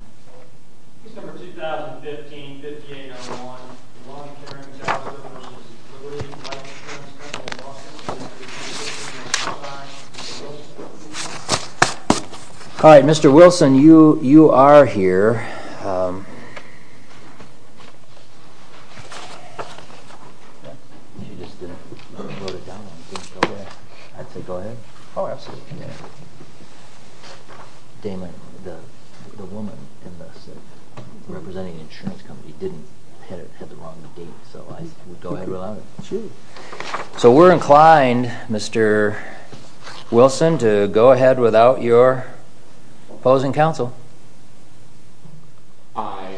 All right, Mr. Wilson, you are here. So we're inclined, Mr. Wilson, to go ahead without your opposing counsel. I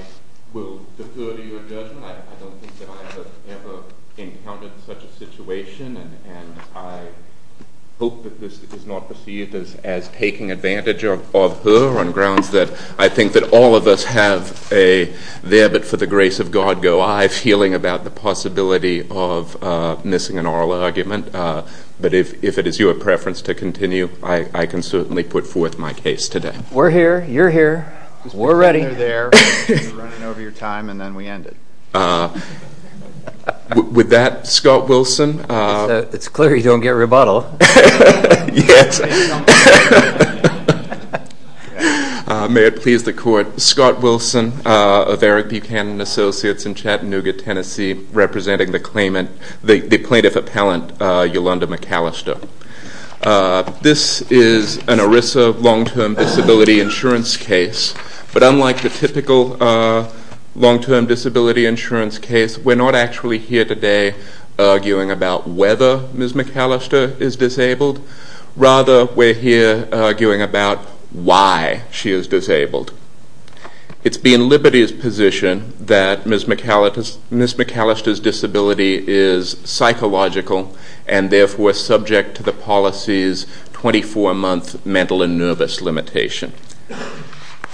will defer to your judgment. I don't think that I have ever encountered such a situation, and I hope that this is not perceived as taking advantage of her on grounds that I think that all of us have a there-but-for-the-grace-of-God-go-I feeling about the possibility of missing an oral argument. But if it is your preference to continue, I can certainly put forth my case today. We're here. You're here. We're ready. With that, Scott Wilson. It's clear you don't get rebuttal. May it please the Court, Scott Wilson of Eric Buchanan Associates in Chattanooga, Tennessee, representing the plaintiff appellant, Yulunda McAlister. This is an ERISA long-term disability insurance case, but unlike the typical long-term disability insurance case, we're not actually here today arguing about whether Ms. McAlister is disabled. Rather, we're here arguing about why she is disabled. It's been Liberty's position that Ms. McAlister's disability is psychological and therefore subject to the policy's 24-month mental and nervous limitation.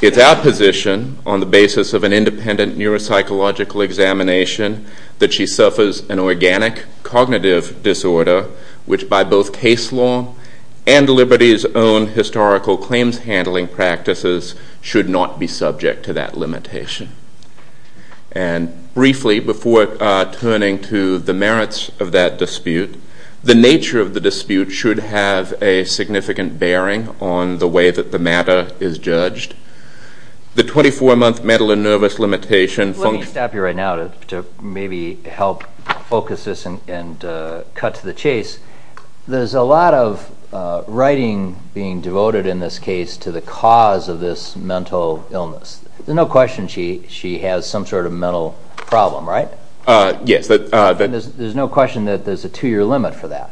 It's our position, on the basis of an independent neuropsychological examination, that she suffers an organic cognitive disorder which, by both case law and Liberty's own historical claims handling practices, should not be subject to that limitation. Briefly, before turning to the merits of that dispute, the nature of the dispute should have a significant bearing on the way that the matter is judged. The 24-month mental and nervous limitation... Let me stop you right now to maybe help focus this and cut to the chase. There's a lot of writing being devoted in this case to the cause of this mental illness. There's no question she has some sort of mental problem, right? Yes. There's no question that there's a two-year limit for that.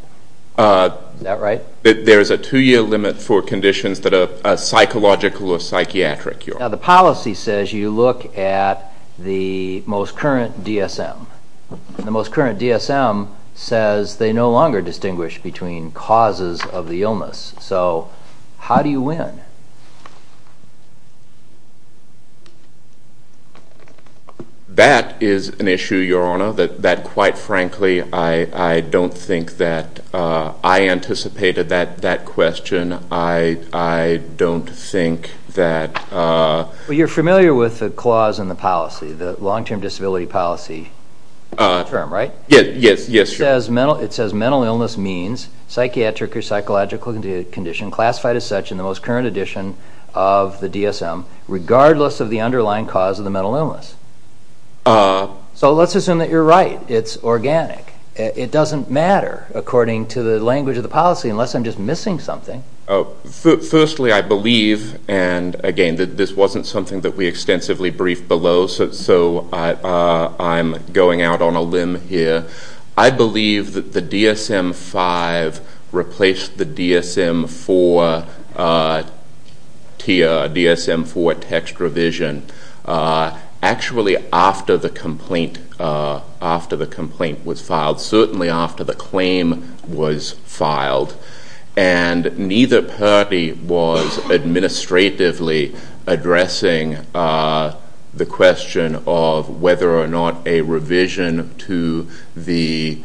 Is that right? There is a two-year limit for conditions that are psychological or psychiatric. Now, the policy says you look at the most current DSM. The most current DSM says they no longer distinguish between causes of the illness. So how do you win? That is an issue, Your Honor, that, quite frankly, I don't think that I anticipated that question. I don't think that... Well, you're familiar with the clause in the policy, the long-term disability policy term, right? Yes, sure. It says mental illness means psychiatric or psychological condition classified as such in the most current edition of the DSM, regardless of the underlying cause of the mental illness. So let's assume that you're right. It's organic. It doesn't matter, according to the language of the policy, unless I'm just missing something. Firstly, I believe, and, again, this wasn't something that we extensively briefed below, so I'm going out on a limb here. I believe that the DSM-5 replaced the DSM-4 tier, DSM-4 text revision, actually after the complaint was filed, certainly after the claim was filed. And neither party was administratively addressing the question of whether or not a revision to the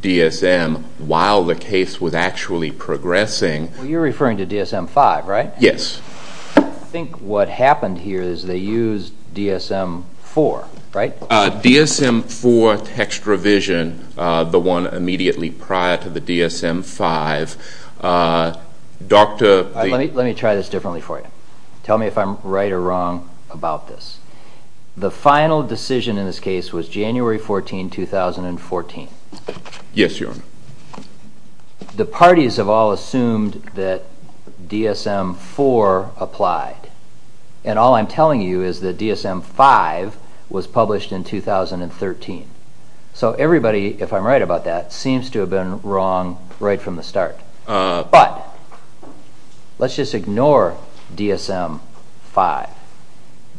DSM while the case was actually progressing. Well, you're referring to DSM-5, right? Yes. I think what happened here is they used DSM-4, right? DSM-4 text revision, the one immediately prior to the DSM-5, Dr. Let me try this differently for you. Tell me if I'm right or wrong about this. The final decision in this case was January 14, 2014. Yes, Your Honor. The parties have all assumed that DSM-4 applied, and all I'm telling you is that DSM-5 was published in 2013. So everybody, if I'm right about that, seems to have been wrong right from the start. But let's just ignore DSM-5.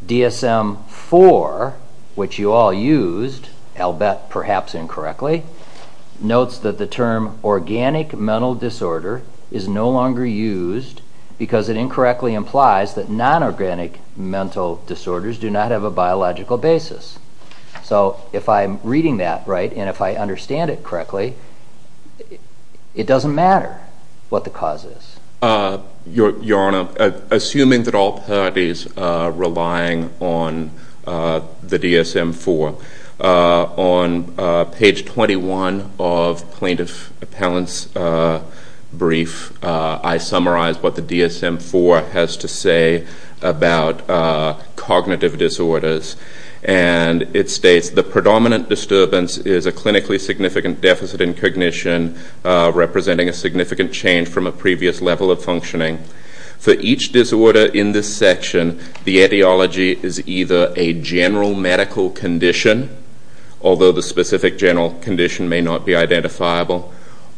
DSM-4, which you all used, I'll bet perhaps incorrectly, notes that the term organic mental disorder is no longer used because it incorrectly implies that non-organic mental disorders do not have a biological basis. So if I'm reading that right and if I understand it correctly, it doesn't matter what the cause is. Your Honor, assuming that all parties are relying on the DSM-4, on page 21 of Plaintiff Appellant's brief, I summarized what the DSM-4 has to say about cognitive disorders. And it states, The predominant disturbance is a clinically significant deficit in cognition, representing a significant change from a previous level of functioning. For each disorder in this section, the etiology is either a general medical condition, although the specific general condition may not be identifiable,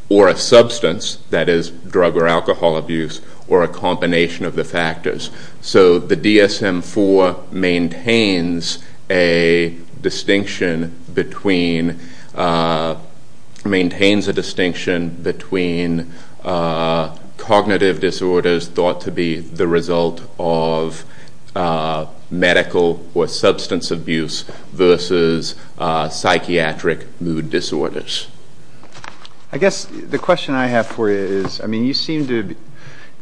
or a substance, that is, drug or alcohol abuse, or a combination of the factors. So the DSM-4 maintains a distinction between cognitive disorders thought to be the result of medical or substance abuse versus psychiatric mood disorders. I guess the question I have for you is, if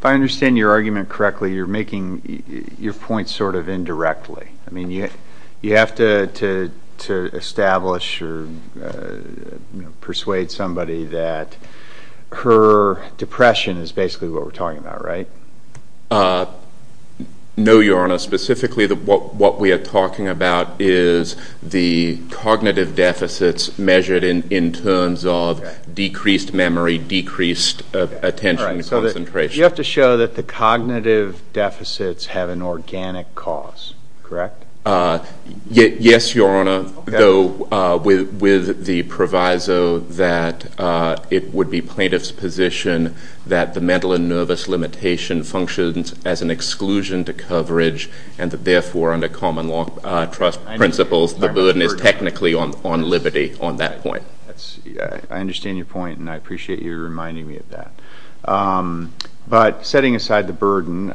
I understand your argument correctly, you're making your point sort of indirectly. You have to establish or persuade somebody that her depression is basically what we're talking about, right? No, Your Honor. Specifically, what we are talking about is the cognitive deficits measured in terms of decreased memory, decreased attention and concentration. You have to show that the cognitive deficits have an organic cause, correct? Yes, Your Honor, though with the proviso that it would be plaintiff's position that the mental and nervous limitation functions as an exclusion to coverage, and that therefore, under common law trust principles, the burden is technically on liberty on that point. I understand your point, and I appreciate you reminding me of that. But setting aside the burden,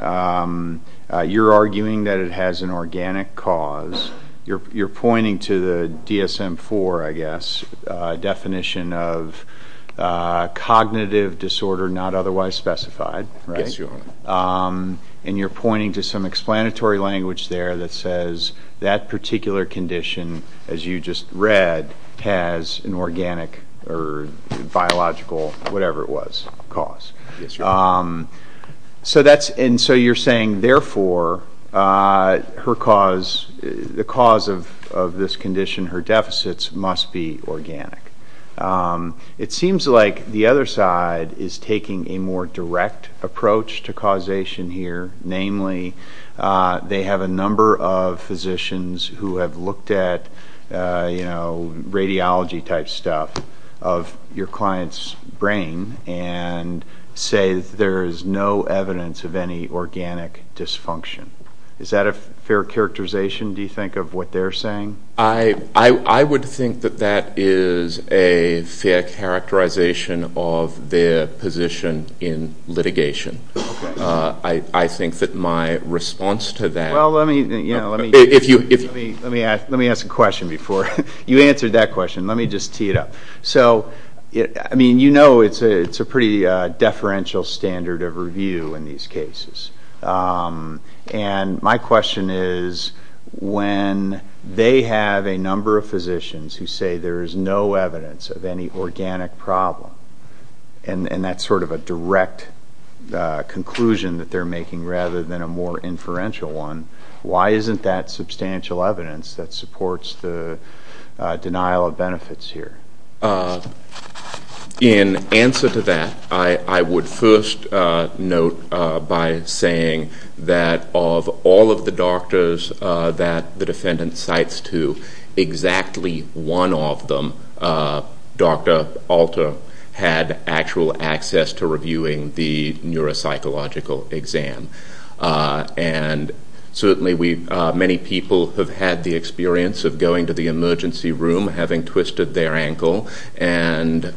you're arguing that it has an organic cause. You're pointing to the DSM-4, I guess, definition of cognitive disorder not otherwise specified, right? Yes, Your Honor. And you're pointing to some explanatory language there that says that particular condition, as you just read, has an organic or biological, whatever it was, cause. Yes, Your Honor. And so you're saying, therefore, the cause of this condition, her deficits, must be organic. It seems like the other side is taking a more direct approach to causation here. Namely, they have a number of physicians who have looked at radiology-type stuff of your client's brain and say there is no evidence of any organic dysfunction. Is that a fair characterization, do you think, of what they're saying? I would think that that is a fair characterization of their position in litigation. I think that my response to that... Well, let me ask a question before you answer that question. Let me just tee it up. So, I mean, you know it's a pretty deferential standard of review in these cases. And my question is, when they have a number of physicians who say there is no evidence of any organic problem, and that's sort of a direct conclusion that they're making rather than a more inferential one, why isn't that substantial evidence that supports the denial of benefits here? In answer to that, I would first note by saying that of all of the doctors that the defendant cites to, exactly one of them, Dr. Alter, had actual access to reviewing the neuropsychological exam. And certainly many people have had the experience of going to the emergency room having twisted their ankle, and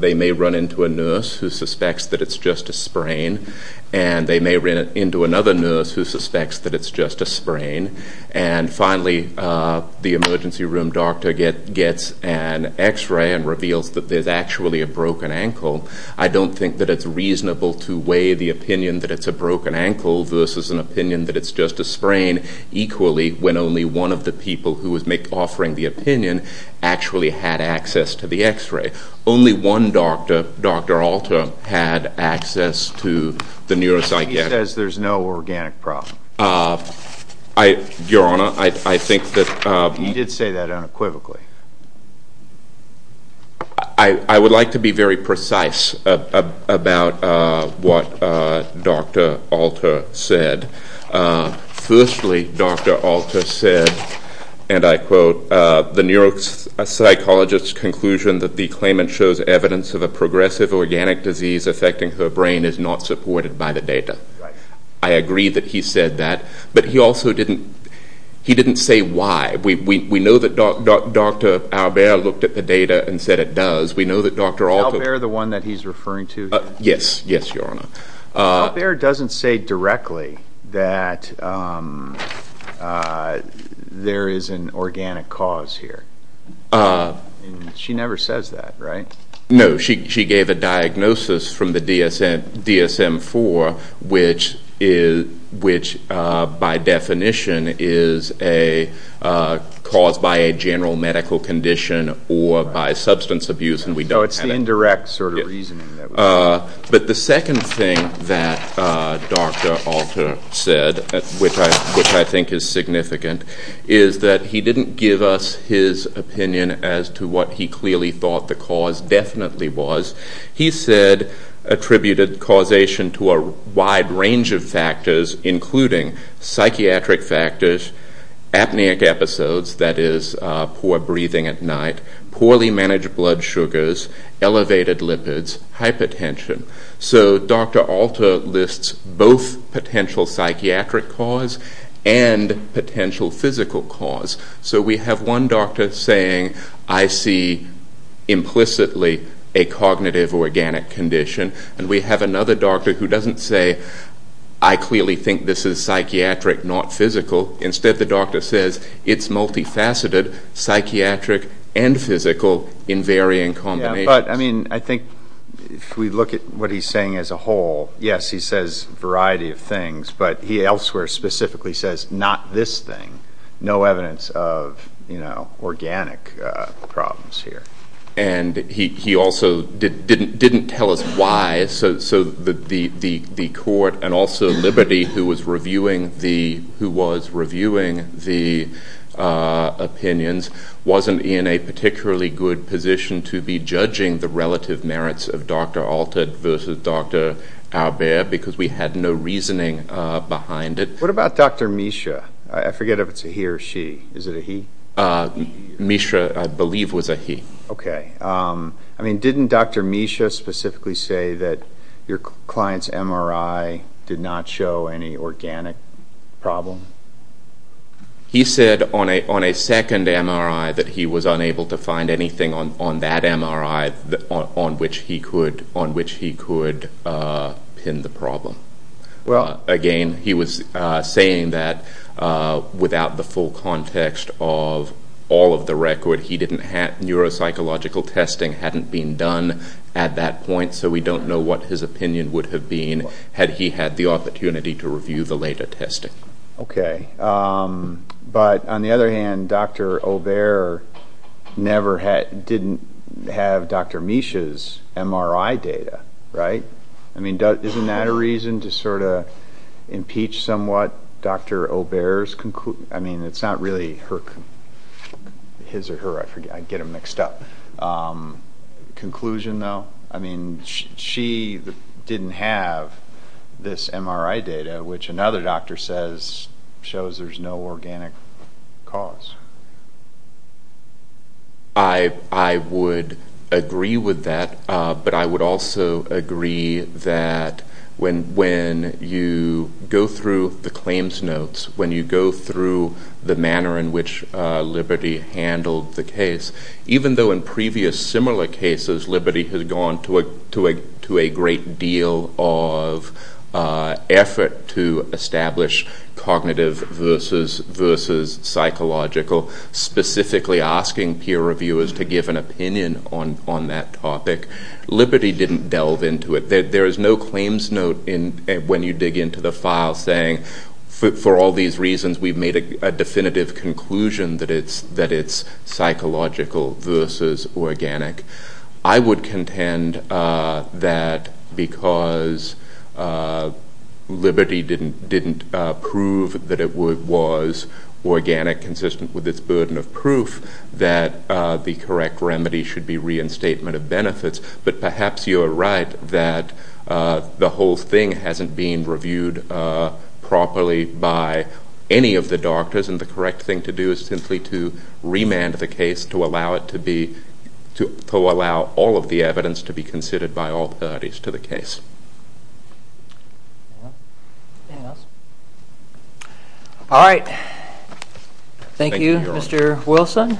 they may run into a nurse who suspects that it's just a sprain, and they may run into another nurse who suspects that it's just a sprain. And finally, the emergency room doctor gets an X-ray and reveals that there's actually a broken ankle. I don't think that it's reasonable to weigh the opinion that it's a broken ankle versus an opinion that it's just a sprain equally, when only one of the people who was offering the opinion actually had access to the X-ray. Only one doctor, Dr. Alter, had access to the neuropsych... He says there's no organic problem. Your Honor, I think that... He did say that unequivocally. I would like to be very precise about what Dr. Alter said. Firstly, Dr. Alter said, and I quote, the neuropsychologist's conclusion that the claimant shows evidence of a progressive organic disease affecting her brain is not supported by the data. I agree that he said that, but he also didn't say why. We know that Dr. Albert looked at the data and said it does. We know that Dr. Alter... Albert, the one that he's referring to? Yes, yes, Your Honor. Albert doesn't say directly that there is an organic cause here. She never says that, right? No, she gave a diagnosis from the DSM-IV, which by definition is caused by a general medical condition or by substance abuse. So it's the indirect sort of reasoning. But the second thing that Dr. Alter said, which I think is significant, is that he didn't give us his opinion as to what he clearly thought the cause definitely was. He said attributed causation to a wide range of factors, including psychiatric factors, apneic episodes, that is poor breathing at night, poorly managed blood sugars, elevated lipids, hypertension. So Dr. Alter lists both potential psychiatric cause and potential physical cause. So we have one doctor saying, I see implicitly a cognitive organic condition, and we have another doctor who doesn't say, I clearly think this is psychiatric, not physical. Instead, the doctor says it's multifaceted, psychiatric and physical in varying combinations. But, I mean, I think if we look at what he's saying as a whole, yes, he says a variety of things, but he elsewhere specifically says not this thing, no evidence of, you know, organic problems here. And he also didn't tell us why. So the court and also Liberty, who was reviewing the opinions, wasn't in a particularly good position to be judging the relative merits of Dr. Alter versus Dr. Albert, because we had no reasoning behind it. What about Dr. Misha? I forget if it's a he or she. Is it a he? Misha, I believe, was a he. Okay. I mean, didn't Dr. Misha specifically say that your client's MRI did not show any organic problem? He said on a second MRI that he was unable to find anything on that MRI on which he could pin the problem. Well, again, he was saying that without the full context of all of the record, neuropsychological testing hadn't been done at that point, so we don't know what his opinion would have been had he had the opportunity to review the later testing. Okay. But on the other hand, Dr. Albert didn't have Dr. Misha's MRI data, right? I mean, isn't that a reason to sort of impeach somewhat Dr. Albert's conclusion? I mean, it's not really his or her. I forget. I get them mixed up. Conclusion, though? I mean, she didn't have this MRI data, which another doctor says shows there's no organic cause. I would agree with that, but I would also agree that when you go through the claims notes, when you go through the manner in which Liberty handled the case, even though in previous similar cases Liberty has gone to a great deal of effort to establish cognitive versus psychological, specifically asking peer reviewers to give an opinion on that topic, Liberty didn't delve into it. There is no claims note when you dig into the file saying, okay, for all these reasons we've made a definitive conclusion that it's psychological versus organic. I would contend that because Liberty didn't prove that it was organic consistent with its burden of proof, that the correct remedy should be reinstatement of benefits. But perhaps you are right that the whole thing hasn't been reviewed properly by any of the doctors, and the correct thing to do is simply to remand the case to allow all of the evidence to be considered by all parties to the case. All right. Thank you, Mr. Wilson.